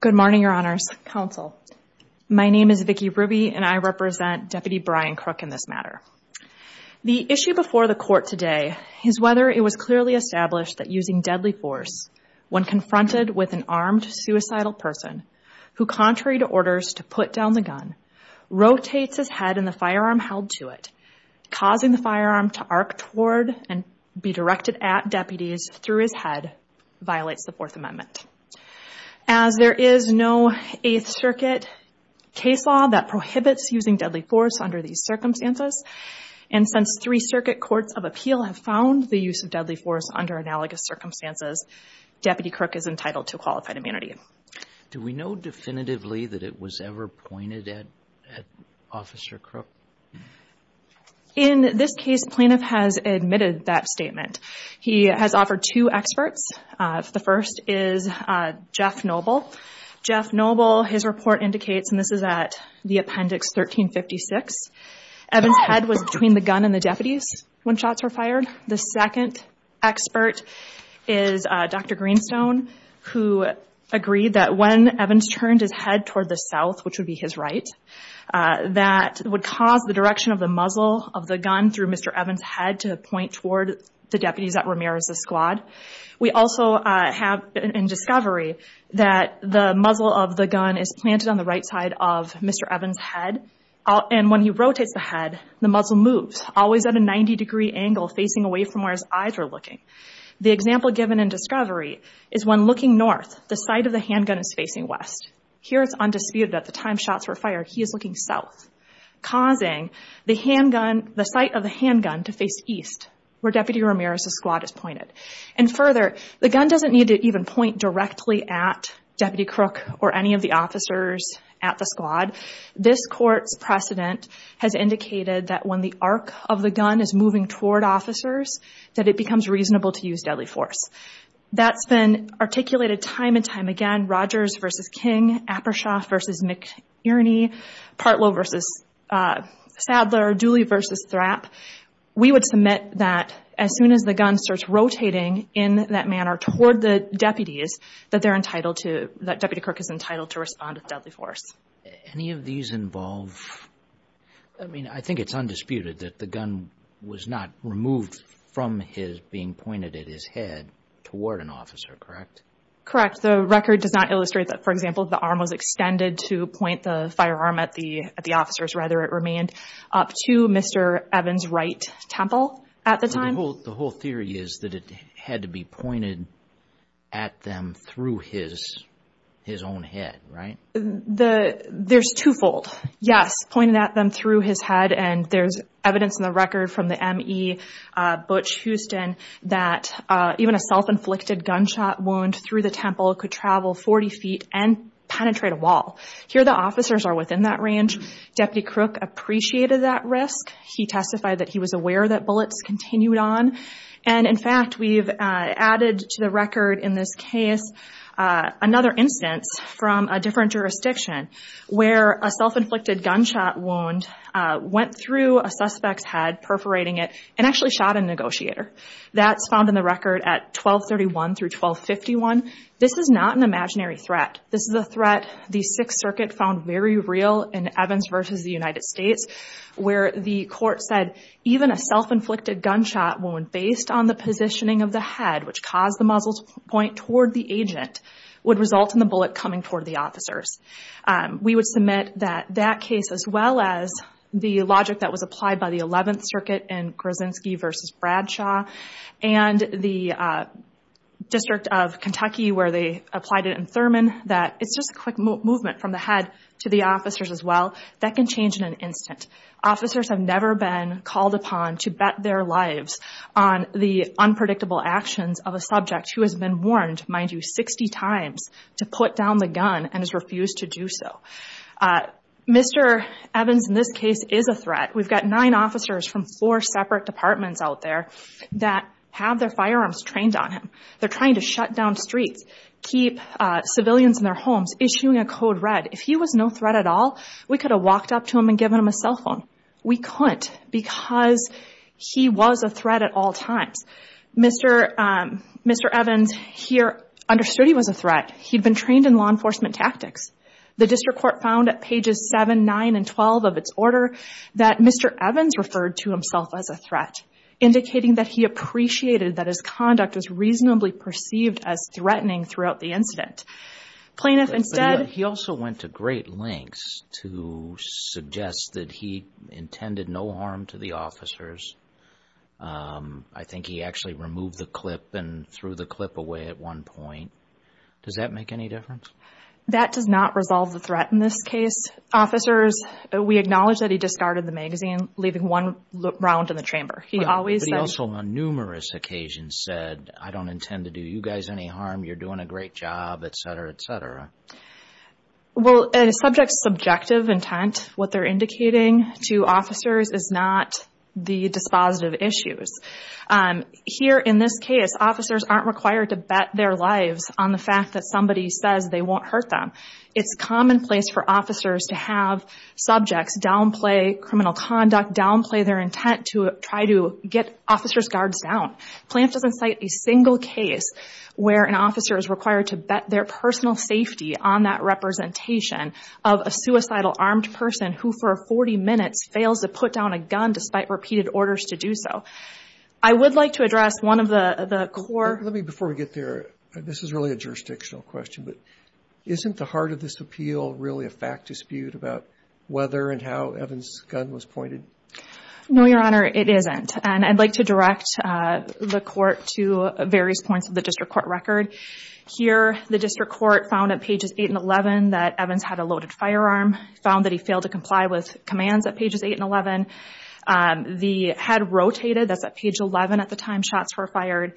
Good morning, Your Honors, Counsel. My name is Vicki Ruby, and I represent Deputy Brian Krook in this matter. The issue before the Court today is whether it was clearly established that using deadly force when confronted with an armed suicidal person who, contrary to orders to put down the gun, rotates his head and the firearm held to it, causing the firearm to arc toward and be directed at deputies through his head, violates the Fourth Amendment. As there is no Eighth Circuit case law that prohibits using deadly force under these circumstances, and since three Circuit Courts of Appeal have found the use of deadly force under analogous circumstances, Deputy Krook is entitled to qualified immunity. Do we know definitively that it was ever pointed at Officer Krook? In this case, plaintiff has admitted that statement. He has offered two experts. The first is Jeff Noble. Jeff Noble, his report indicates, and this is at the appendix 1356, Evans' head was between the gun and the deputies when shots were fired. The second expert is Dr. Greenstone, who agreed that when Evans turned his head toward the south, which would be his right, that would cause the direction of the muzzle of the gun through Mr. Evans' head to point toward the deputies at Ramirez's squad. We also have in discovery that the muzzle of the gun is planted on the right side of Mr. Evans' head, and when he rotates the head, the muzzle moves, always at a 90-degree angle facing away from where his eyes are looking. The example given in discovery is when looking north, the sight of the handgun is facing west. Here it's undisputed that the time shots were fired, he is looking south, causing the handgun, the sight of the handgun to face east, where Deputy Ramirez's squad is pointed. And further, the gun doesn't need to even point directly at Deputy Krook or any of the officers at the squad. This court's precedent has indicated that when the arc of the gun is moving toward officers, that it becomes reasonable to use deadly force. That's been articulated time and time again, Rogers versus King, Apershoff versus McIrney, Partlow versus Sadler, Dooley versus Thrapp. We would submit that as soon as the gun starts rotating in that manner toward the deputies, that they're entitled to, that Deputy Krook is entitled to respond with deadly force. Any of these involve, I mean, I think it's undisputed that the gun was not removed from his being pointed at his head toward an officer, correct? Correct. The record does not illustrate that, for example, the arm was extended to point the firearm at the officers, rather it remained up to Mr. Evans' right temple at the time. The whole theory is that it had to be pointed at them through his own head, right? There's two-fold. Yes, pointed at them through his head, and there's evidence in the record from the M.E. Butch Houston that even a self-inflicted gunshot wound through the temple could travel 40 feet and penetrate a wall. Here the officers are within that range. Deputy Krook appreciated that risk. He testified that he was aware that bullets continued on, and in fact, we've added to the record in this case another instance from a different jurisdiction where a self-inflicted gunshot wound went through a suspect's head, perforating it, and actually shot a negotiator. That's found in the record at 1231 through 1251. This is not an imaginary threat. This is a threat the Sixth Circuit found very real in Evans versus the United States, where the court said even a self-inflicted gunshot wound based on the positioning of the head, which caused the muzzle point toward the agent, would result in the bullet coming toward the officers. We would submit that that case, as well as the logic that was applied by the Eleventh Circuit in Krasinski versus Bradshaw, and the District of Kentucky where they applied it in Thurman, that it's just a quick movement from the head to the officers as well. That can change in an instant. Officers have never been called upon to bet their lives on the unpredictable actions of a subject who has been warned, mind you, 60 times to put down the gun and has refused to do so. Mr. Evans in this case is a threat. We've got nine officers from four separate departments out there that have their firearms trained on him. They're trying to shut down streets, keep civilians in their homes, issuing a code red. If he was no threat at all, we could have walked up to him and given him a cell phone. We couldn't because he was a threat at all times. Mr. Evans here understood he was a threat. He'd been trained in law enforcement tactics. The district court found at pages 7, 9, and 12 of its order that Mr. Evans referred to himself as a threat, indicating that he appreciated that his conduct was reasonably perceived as threatening throughout the incident. Plaintiff instead... But he also went to great lengths to suggest that he intended no harm to the officers. I think he actually removed the clip and threw the clip away at one point. Does that make any difference? That does not resolve the threat in this case, officers. We acknowledge that he discarded the magazine, leaving one round in the chamber. He always said... But he also on numerous occasions said, I don't intend to do you guys any harm, you're doing a great job, et cetera, et cetera. Well a subject's subjective intent, what they're indicating to officers is not the dispositive issues. Here in this case, officers aren't required to bet their lives on the fact that somebody says they won't hurt them. It's commonplace for officers to have subjects downplay criminal conduct, downplay their intent to try to get officers' guards down. Plaintiff doesn't cite a single case where an officer is required to bet their personal safety on that representation of a suicidal armed person who for 40 minutes fails to put down a gun despite repeated orders to do so. I would like to address one of the core... Let me, before we get there, this is really a jurisdictional question, but isn't the heart of this appeal really a fact dispute about whether and how Evans' gun was pointed? No, Your Honor, it isn't. I'd like to direct the court to various points of the district court record. Here, the district court found at pages 8 and 11 that Evans had a loaded firearm, found that he failed to comply with commands at pages 8 and 11. The head rotated, that's at page 11 at the time shots were fired.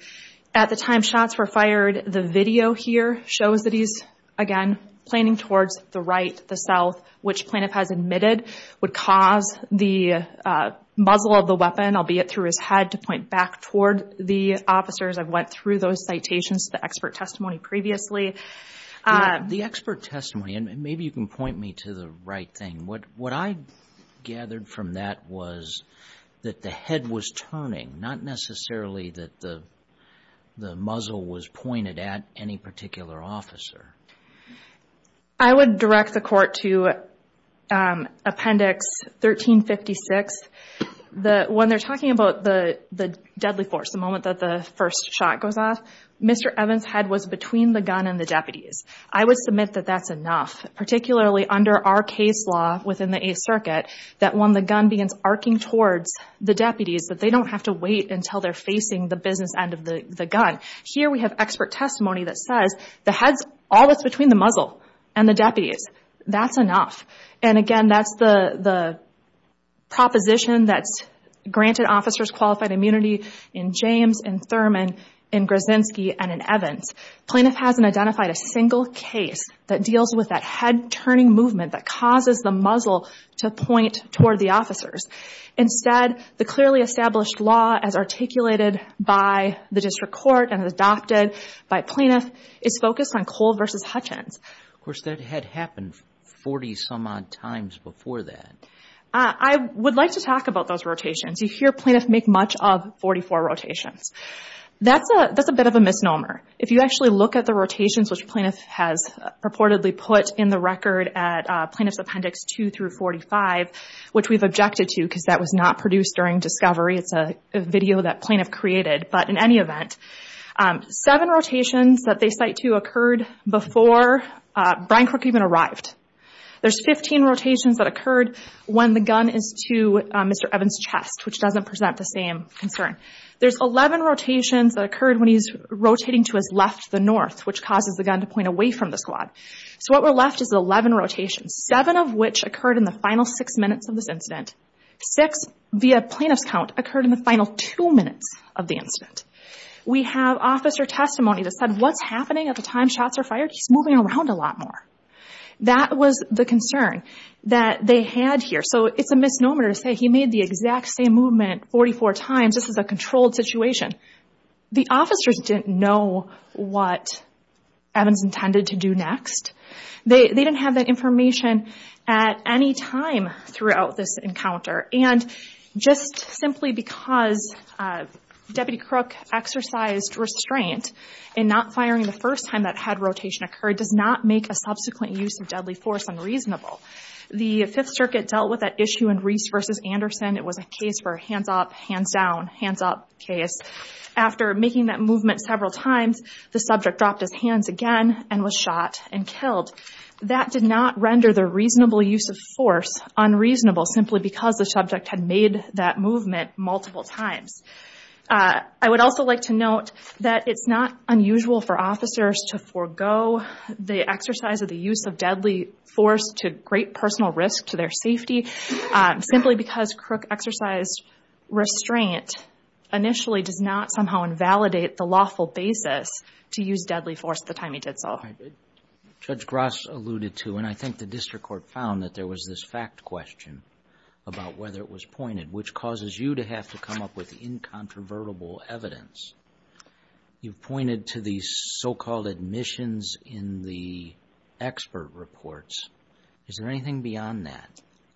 At the time shots were fired, the video here shows that he's, again, planning towards the right, the south, which plaintiff has admitted would cause the muzzle of the weapon, albeit through his head, to point back toward the officers. I've went through those citations, the expert testimony previously. The expert testimony, and maybe you can point me to the right thing. What I gathered from that was that the head was turning, not necessarily that the muzzle was pointed at any particular officer. I would direct the court to Appendix 1356. When they're talking about the deadly force, the moment that the first shot goes off, Mr. Evans' head was between the gun and the deputies. I would submit that that's enough, particularly under our case law within the Eighth Circuit, that when the gun begins arcing towards the deputies, that they don't have to wait until they're facing the business end of the gun. Here we have expert testimony that says the head's always between the muzzle and the deputies. That's enough. Again, that's the proposition that's granted officers qualified immunity in James, in Thurman, in Grazinski, and in Evans. Plaintiff hasn't identified a single case that deals with that head turning movement that causes the muzzle to point toward the officers. Instead, the clearly established law as articulated by the district court and adopted by plaintiff is focused on Cole versus Hutchins. Of course, that had happened 40 some odd times before that. I would like to talk about those rotations. You hear plaintiffs make much of 44 rotations. That's a bit of a misnomer. If you actually look at the rotations which plaintiff has purportedly put in the record at Plaintiff's Appendix 2 through 45, which we've objected to because that was not produced during discovery, it's a video that plaintiff created, but in any event, seven rotations that they cite to occurred before Brian Crook even arrived. There's 15 rotations that occurred when the gun is to Mr. Evans' chest, which doesn't present the same concern. There's 11 rotations that occurred when he's rotating to his left, the north, which causes the gun to point away from the squad. So what were left is 11 rotations, seven of which occurred in the final six minutes of this incident. We have officer testimony that said, what's happening at the time shots are fired? He's moving around a lot more. That was the concern that they had here. So it's a misnomer to say he made the exact same movement 44 times. This is a controlled situation. The officers didn't know what Evans intended to do next. They didn't have that information at any time throughout this encounter. And just simply because Deputy Crook exercised restraint in not firing the first time that head rotation occurred does not make a subsequent use of deadly force unreasonable. The Fifth Circuit dealt with that issue in Reese v. Anderson. It was a case for a hands-up, hands-down, hands-up case. After making that movement several times, the subject dropped his hands again and was shot and killed. That did not render the reasonable use of force unreasonable simply because the subject had made that movement multiple times. I would also like to note that it's not unusual for officers to forego the exercise of the use of deadly force to great personal risk to their safety simply because Crook exercised restraint initially does not somehow invalidate the lawful basis to use deadly force at the time he did so. Judge Gross alluded to, and I think the district court found, that there was this fact question about whether it was pointed, which causes you to have to come up with incontrovertible evidence. You've pointed to the so-called admissions in the expert reports. Is there anything beyond that?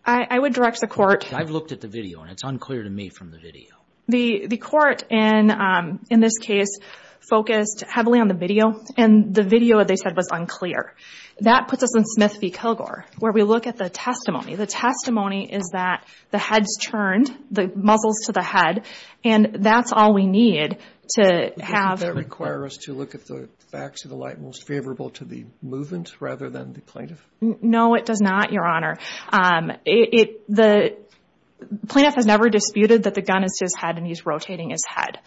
I would direct the court... I've looked at the video and it's unclear to me from the video. The court, in this case, focused heavily on the video and the video, they said, was unclear. That puts us in Smith v. Kilgore, where we look at the testimony. The testimony is that the head's turned, the muzzles to the head, and that's all we need to have... Does that require us to look at the facts of the light most favorable to the movement rather than the plaintiff? No, it does not, Your Honor. The plaintiff has never disputed that the gun is to his head and he's rotating his head.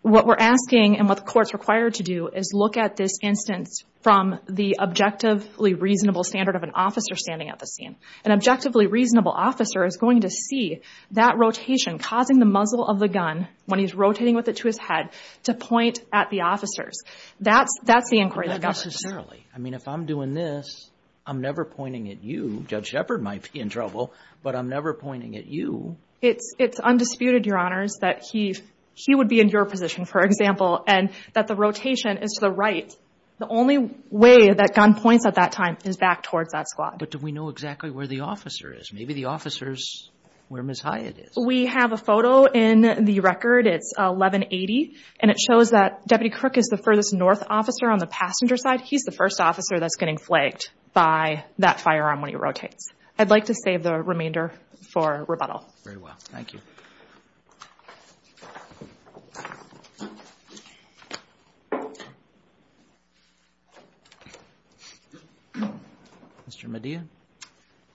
What we're asking and what the court's required to do is look at this instance from the objectively reasonable standard of an officer standing at the scene. An objectively reasonable officer is going to see that rotation causing the muzzle of the gun, when he's rotating with it to his head, to point at the officers. That's the inquiry that governs. Not necessarily. I mean, if I'm doing this, I'm never pointing at you. Judge Shepard might be in trouble, but I'm never pointing at you. It's undisputed, Your Honors, that he would be in your position, for example, and that the rotation is to the right. The only way that gun points at that time is back towards that squad. But do we know exactly where the officer is? Maybe the officer's where Ms. Hyatt is. We have a photo in the record. It's 1180, and it shows that Deputy Crook is the furthest north officer on the passenger side. He's the first officer that's getting flaked by that firearm when he rotates. I'd like to save the remainder for rebuttal. Very well. Thank you. Mr. Medea?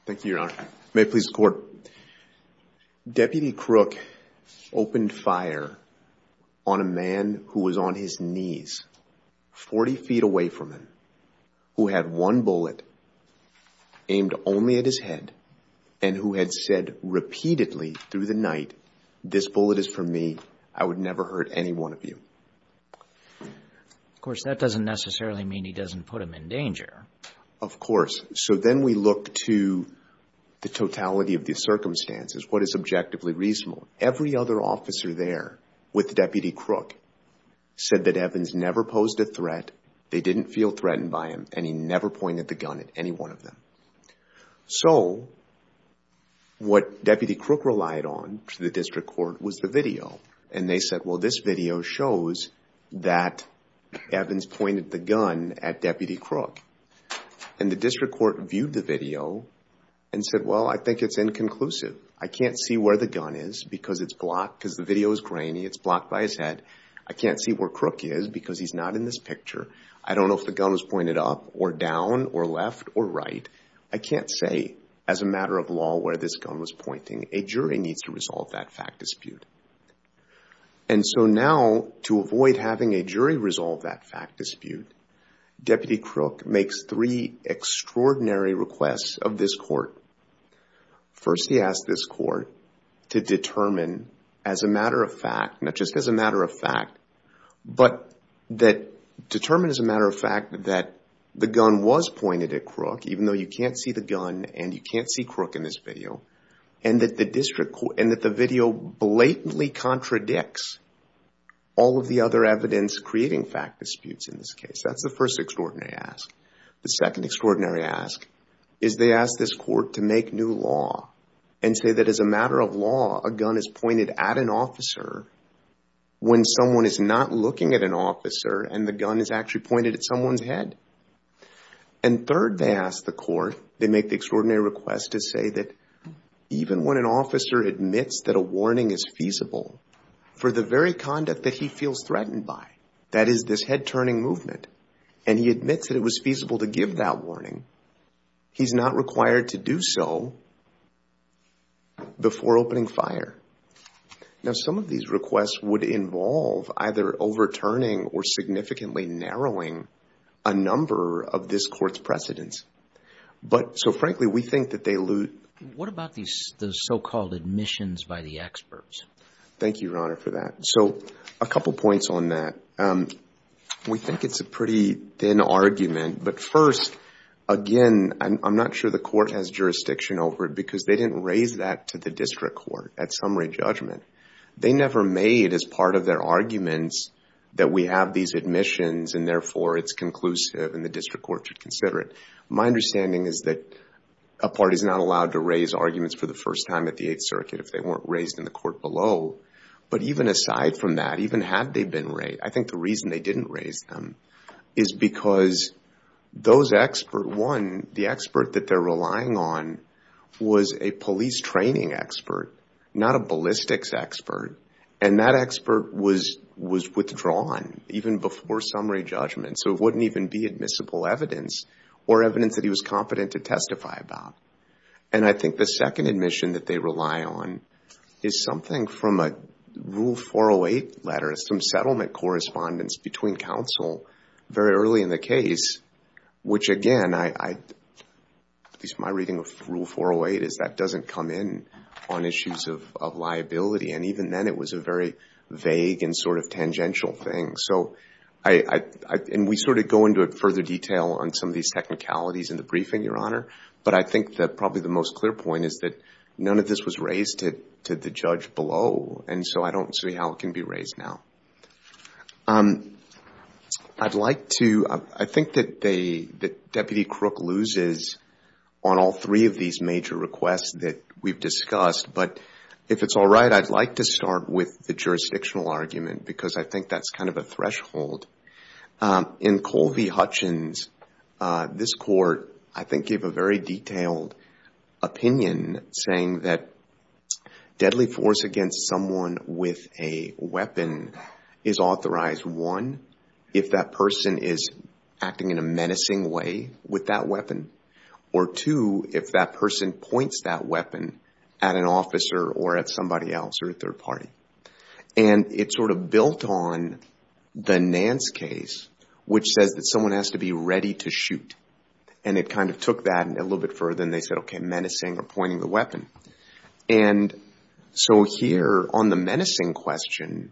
Thank you, Your Honor. May it please the Court, Deputy Crook opened fire on a man who was on his knees 40 feet away from him, who had one bullet aimed only at his head, and who had said repeatedly through the night, this bullet is for me, I would never hurt any one of you. Of course, that doesn't necessarily mean he doesn't put him in danger. Of course. So then we look to the totality of the circumstances, what is objectively reasonable. Every other officer there with Deputy Crook said that Evans never posed a threat, they didn't feel threatened by him, and he never pointed the gun at any one of them. So what Deputy Crook relied on to the District Court was the video. And they said, well, this video shows that Evans pointed the gun at Deputy Crook. And the District Court viewed the video and said, well, I think it's inconclusive. I can't see where the gun is because it's blocked, because the video is grainy, it's blocked by his head. I can't see where Crook is because he's not in this picture. I don't know if the gun was pointed up or down or left or right. I can't say as a matter of law where this gun was pointing. A jury needs to resolve that fact dispute. And so now to avoid having a jury resolve that fact dispute, Deputy Crook makes three extraordinary requests of this Court. First, he asks this Court to determine as a matter of fact, not just as a matter of fact, but that, determine as a matter of fact that the gun was pointed at Crook, even though you can't see the gun and you can't see Crook in this video, and that the video blatantly contradicts all of the other evidence creating fact disputes in this case. That's the first extraordinary ask. The second extraordinary ask is they ask this Court to make new law and say that as a matter of law, a gun is pointed at an officer when someone is not looking at an officer and the gun is actually pointed at someone's head. And third, they ask the Court, they make the extraordinary request to say that even when an officer admits that a warning is feasible for the very conduct that he feels threatened by, that is this head-turning movement, and he admits that it was feasible to give that warning, he's not required to do so before opening fire. Now some of these requests would involve either overturning or significantly narrowing a number of this Court's precedents. But so frankly, we think that they lose. What about the so-called admissions by the experts? Thank you, Your Honor, for that. So a couple points on that. We think it's a pretty thin argument, but first, again, I'm not sure the Court has jurisdiction over it because they didn't raise that to the District Court at summary judgment. They never made as part of their arguments that we have these admissions and therefore it's conclusive and the District Court should consider it. My understanding is that a party is not allowed to raise arguments for the first time at the Aside from that, even had they been raised, I think the reason they didn't raise them is because those experts, one, the expert that they're relying on was a police training expert, not a ballistics expert, and that expert was withdrawn even before summary judgment, so it wouldn't even be admissible evidence or evidence that he was competent to testify about. And I think the second admission that they rely on is something from a Rule 408 letter, some settlement correspondence between counsel very early in the case, which again, at least my reading of Rule 408, is that doesn't come in on issues of liability, and even then it was a very vague and sort of tangential thing. So we sort of go into further detail on some of these technicalities in the briefing, Your Honor, and I think that probably the most clear point is that none of this was raised to the judge below, and so I don't see how it can be raised now. I'd like to, I think that Deputy Crook loses on all three of these major requests that we've discussed, but if it's all right, I'd like to start with the jurisdictional argument because I think that's kind of a threshold. In Colvie-Hutchins, this court, I think, gave a very detailed opinion saying that deadly force against someone with a weapon is authorized, one, if that person is acting in a menacing way with that weapon, or two, if that person points that weapon at an officer or at somebody else or at their party. And it sort of built on the Nance case, which says that someone has to be ready to shoot, and it kind of took that a little bit further, and they said, okay, menacing or pointing the weapon. And so here on the menacing question,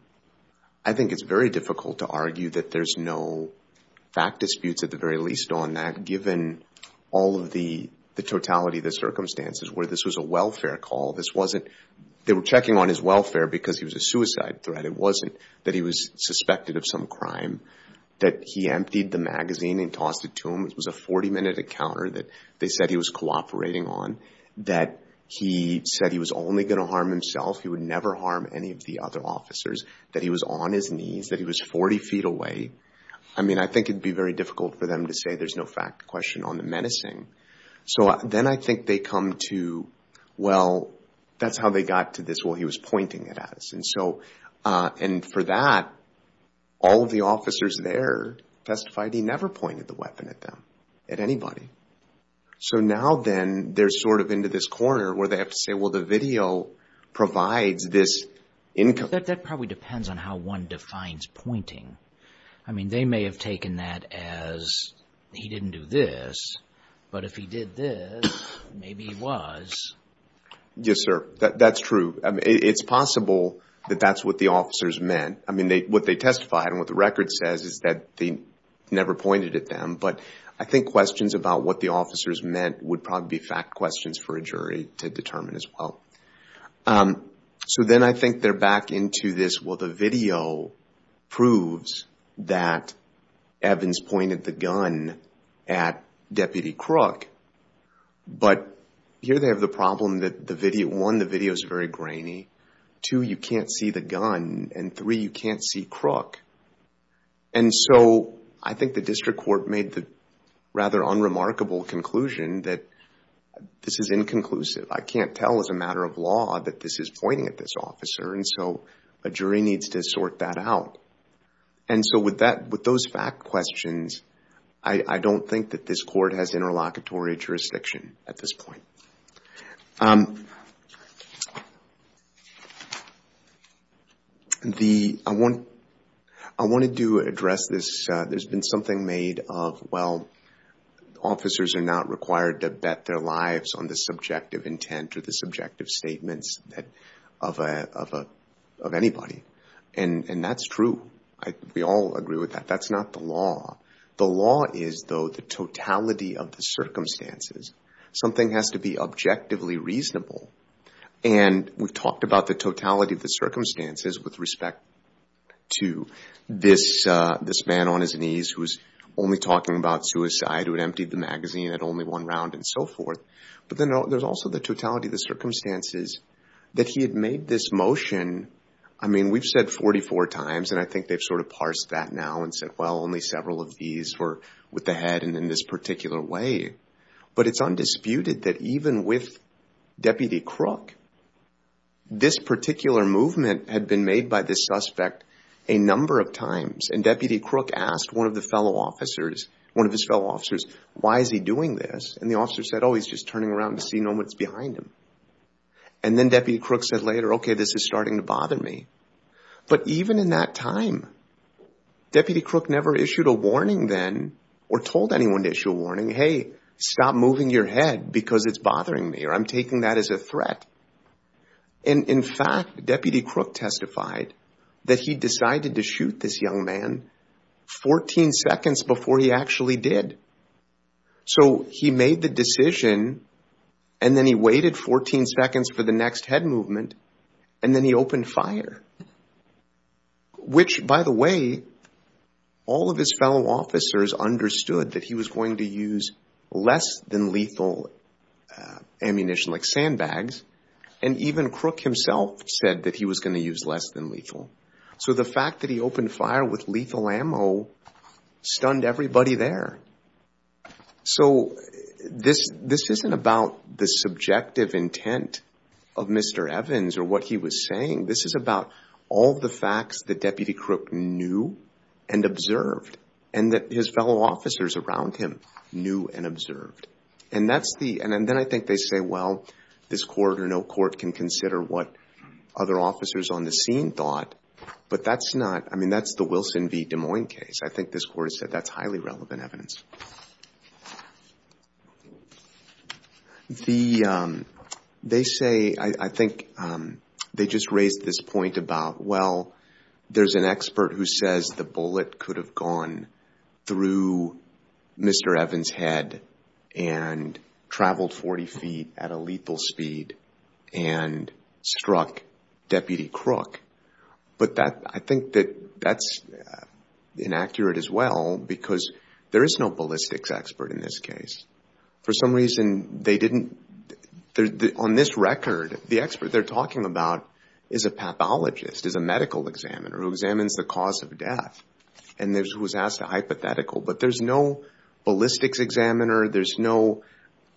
I think it's very difficult to argue that there's no fact disputes at the very least on that, given all of the totality of the circumstances where this was a welfare call. They were checking on his welfare because he was a suicide threat. It wasn't that he was suspected of some crime, that he emptied the magazine and tossed it to him. It was a 40-minute encounter that they said he was cooperating on, that he said he was only going to harm himself. He would never harm any of the other officers, that he was on his knees, that he was 40 feet away. I mean, I think it'd be very difficult for them to say there's no fact question on the menacing. So then I think they come to, well, that's how they got to this, well, he was pointing it at us. And so, and for that, all of the officers there testified he never pointed the weapon at them, at anybody. So now then, they're sort of into this corner where they have to say, well, the video provides this income. That probably depends on how one defines pointing. I mean, they may have taken that as he didn't do this, but if he did this, maybe he was. Yes, sir. That's true. It's possible that that's what the officers meant. I mean, what they testified and what the record says is that they never pointed at them. But I think questions about what the officers meant would probably be fact questions for a jury to determine as well. So then I think they're back into this, well, the video proves that Evans pointed the gun at Deputy Crook. But here they have the problem that the video, one, the video is very grainy. Two, you can't see the gun. And three, you can't see Crook. And so, I think the district court made the rather unremarkable conclusion that this is inconclusive. I can't tell as a matter of law that this is pointing at this officer. And so, a jury needs to sort that out. And so, with those fact questions, I don't think that this court has interlocutory jurisdiction at this point. I wanted to address this. There's been something made of, well, officers are not required to bet their lives on the subjective intent or the subjective statements of anybody. And that's true. We all agree with that. That's not the law. The law is, though, the totality of the circumstances. Something has to be objectively reasonable. And we've talked about the totality of the circumstances with respect to this man on his knees who was only talking about suicide, who had emptied the magazine at only one round and so forth. But then, there's also the totality of the circumstances that he had made this motion, I mean, we've said 44 times and I think they've sort of parsed that now and said, well, only several of these were with the head and in this particular way. But it's undisputed that even with Deputy Crook, this particular movement had been made by this suspect a number of times. And Deputy Crook asked one of the fellow officers, one of his fellow officers, why is he doing this? And the officer said, oh, he's just turning around to see no one's behind him. And then Deputy Crook said later, okay, this is starting to bother me. But even in that time, Deputy Crook never issued a warning then or told anyone to issue a warning, hey, stop moving your head because it's bothering me or I'm taking that as a threat. And in fact, Deputy Crook testified that he decided to shoot this young man 14 seconds before he actually did. So, he made the decision and then he waited 14 seconds for the next head movement and then he opened fire, which by the way, all of his fellow officers understood that he was going to use less than lethal ammunition like sandbags and even Crook himself said that he was going to use less than lethal. So the fact that he opened fire with lethal ammo stunned everybody there. So this isn't about the subjective intent of Mr. Evans or what he was saying. This is about all the facts that Deputy Crook knew and observed and that his fellow officers around him knew and observed. And then I think they say, well, this court or no court can consider what other officers on the scene thought, but that's not, I mean, that's the Wilson v. Des Moines case. I think this court said that's highly relevant evidence. They say, I think they just raised this point about, well, there's an expert who says the bullet could have gone through Mr. Evans' head and traveled 40 feet at a lethal speed and struck Deputy Crook. But that, I think that that's inaccurate as well because there is no ballistics expert in this case. For some reason, they didn't, on this record, the expert they're talking about is a pathologist, is a medical examiner who examines the cause of death and was asked a hypothetical, but there's no ballistics examiner. There's no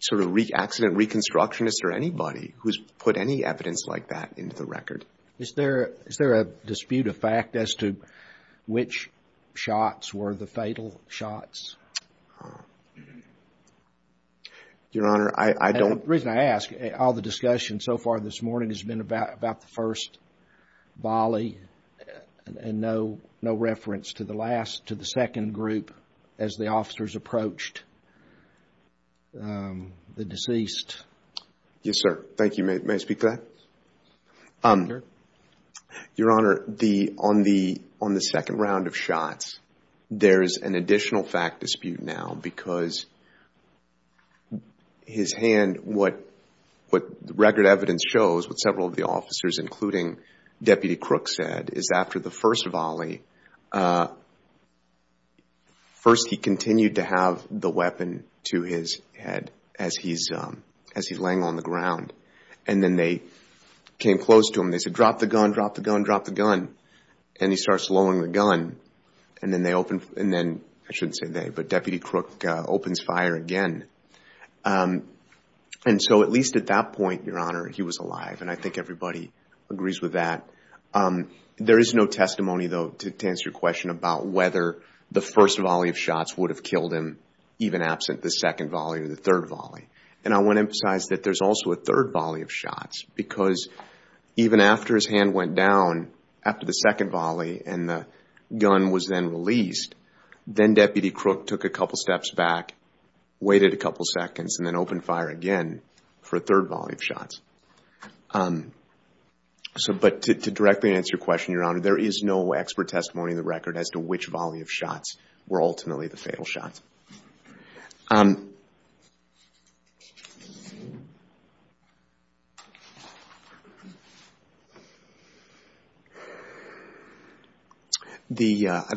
sort of accident reconstructionist or anybody who's put any evidence like that into the record. Is there a dispute of fact as to which shots were the fatal shots? Your Honor, I don't... The reason I ask, all the discussion so far this morning has been about the first volley and no reference to the second group as the officers approached the deceased. Yes, sir. Thank you. May I speak to that? Your Honor, on the second round of shots, there is an additional fact dispute now because his hand, what the record evidence shows with several of the officers, including Deputy Crook, said is after the first volley, first he continued to have the weapon to his head as he's laying on the ground and then they came close to him. They said, drop the gun, drop the gun, drop the gun, and he starts lowering the gun and then they open... and then, I shouldn't say they, but Deputy Crook opens fire again. At least at that point, Your Honor, he was alive and I think everybody agrees with that. There is no testimony, though, to answer your question about whether the first volley of shots would have killed him even absent the second volley or the third volley. I want to emphasize that there's also a third volley of shots because even after his hand went down after the second volley and the gun was then released, then Deputy Crook took a couple of steps back, waited a couple of seconds, and then opened fire again for a third volley of shots. But to directly answer your question, Your Honor, there is no expert testimony in the record as to which volley of shots were ultimately the fatal shots. I'd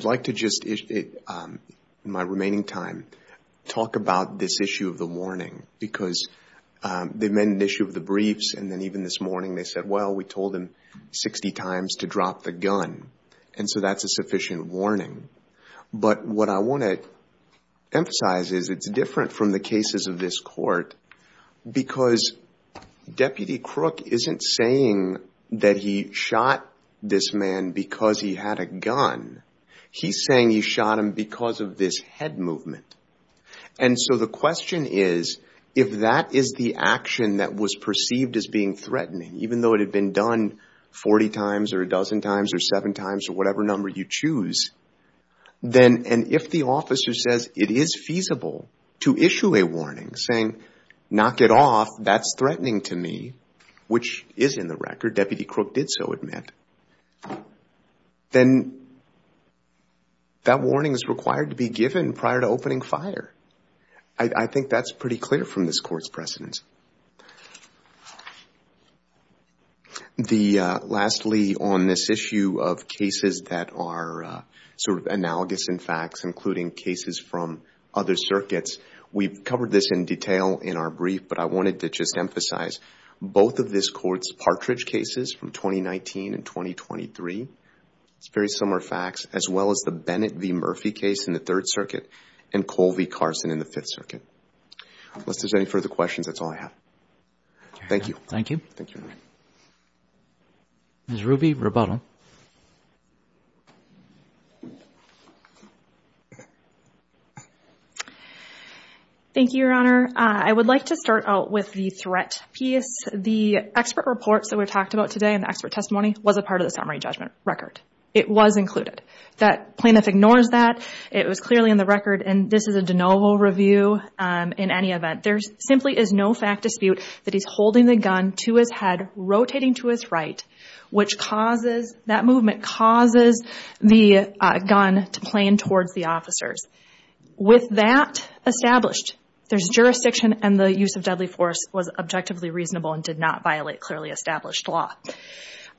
like to just, in my remaining time, talk about this issue of the warning because they made an issue of the briefs and then even this morning they said, well, we told him sixty times to drop the gun and so that's a sufficient warning. But what I want to emphasize is it's different from the cases of this court because Deputy Crook isn't saying that he shot this man because he had a gun. He's saying he shot him because of this head movement. And so the question is, if that is the action that was perceived as being threatening, even though it had been done forty times or a dozen times or seven times or whatever number you choose, and if the officer says it is feasible to issue a warning saying, knock it off, that's threatening to me, which is in the record, Deputy Crook did so admit, then that warning is required to be given prior to opening fire. I think that's pretty clear from this court's precedence. Lastly, on this issue of cases that are sort of analogous in facts, including cases from other circuits, we've covered this in detail in our brief, but I wanted to just emphasize both of this court's Partridge cases from 2019 and 2023, it's very similar facts, as in the Fifth Circuit. Unless there's any further questions, that's all I have. Thank you. Thank you. Thank you. Ms. Ruby Roboto. Thank you, Your Honor. I would like to start out with the threat piece. The expert reports that were talked about today and the expert testimony was a part of the summary judgment record. It was included. That plaintiff ignores that. It was clearly in the record and this is a de novo review in any event. There simply is no fact dispute that he's holding the gun to his head, rotating to his right, which causes, that movement causes the gun to plane towards the officers. With that established, there's jurisdiction and the use of deadly force was objectively reasonable and did not violate clearly established law.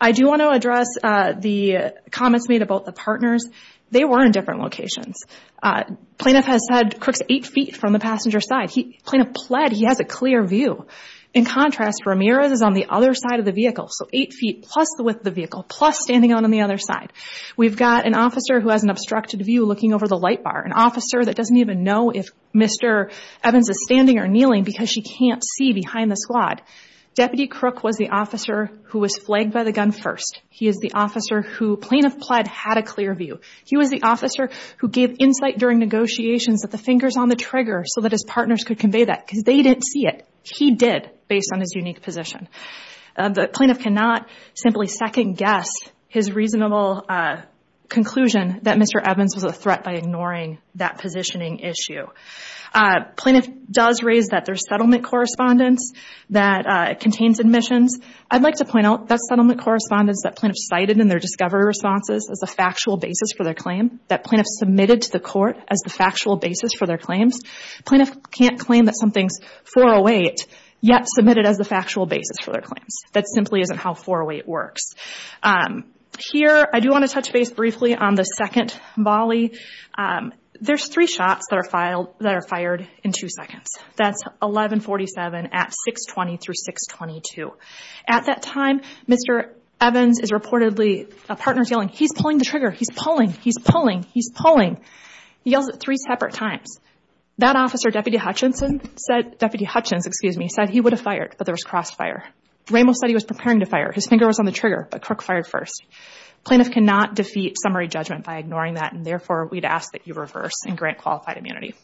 I do want to address the comments made about the partners. They were in different locations. Plaintiff has said Crook's eight feet from the passenger side. Plaintiff pled he has a clear view. In contrast, Ramirez is on the other side of the vehicle, so eight feet plus the width of the vehicle plus standing out on the other side. We've got an officer who has an obstructed view looking over the light bar, an officer that doesn't even know if Mr. Evans is standing or kneeling because she can't see behind the squad. Deputy Crook was the officer who was flagged by the gun first. He is the officer who plaintiff pled had a clear view. He was the officer who gave insight during negotiations that the finger's on the trigger so that his partners could convey that because they didn't see it. He did based on his unique position. The plaintiff cannot simply second guess his reasonable conclusion that Mr. Evans was a threat by ignoring that positioning issue. Plaintiff does raise that there's settlement correspondence that contains admissions. I'd like to point out that settlement correspondence that plaintiff cited in their discovery responses is a factual basis for their claim that plaintiff submitted to the court as the factual basis for their claims. Plaintiff can't claim that something's 408 yet submit it as the factual basis for their claims. That simply isn't how 408 works. Here I do want to touch base briefly on the second volley. There's three shots that are fired in two seconds. That's 1147 at 620 through 622. At that time, Mr. Evans is reportedly, a partner's yelling, he's pulling the trigger, he's pulling, he's pulling, he's pulling. He yells it three separate times. That officer, Deputy Hutchinson, said, Deputy Hutchins, excuse me, said he would have fired, but there was crossfire. Ramos said he was preparing to fire. His finger was on the trigger, but Crook fired first. Plaintiff cannot defeat summary judgment by ignoring that, and therefore, we'd ask that you reverse and grant qualified immunity.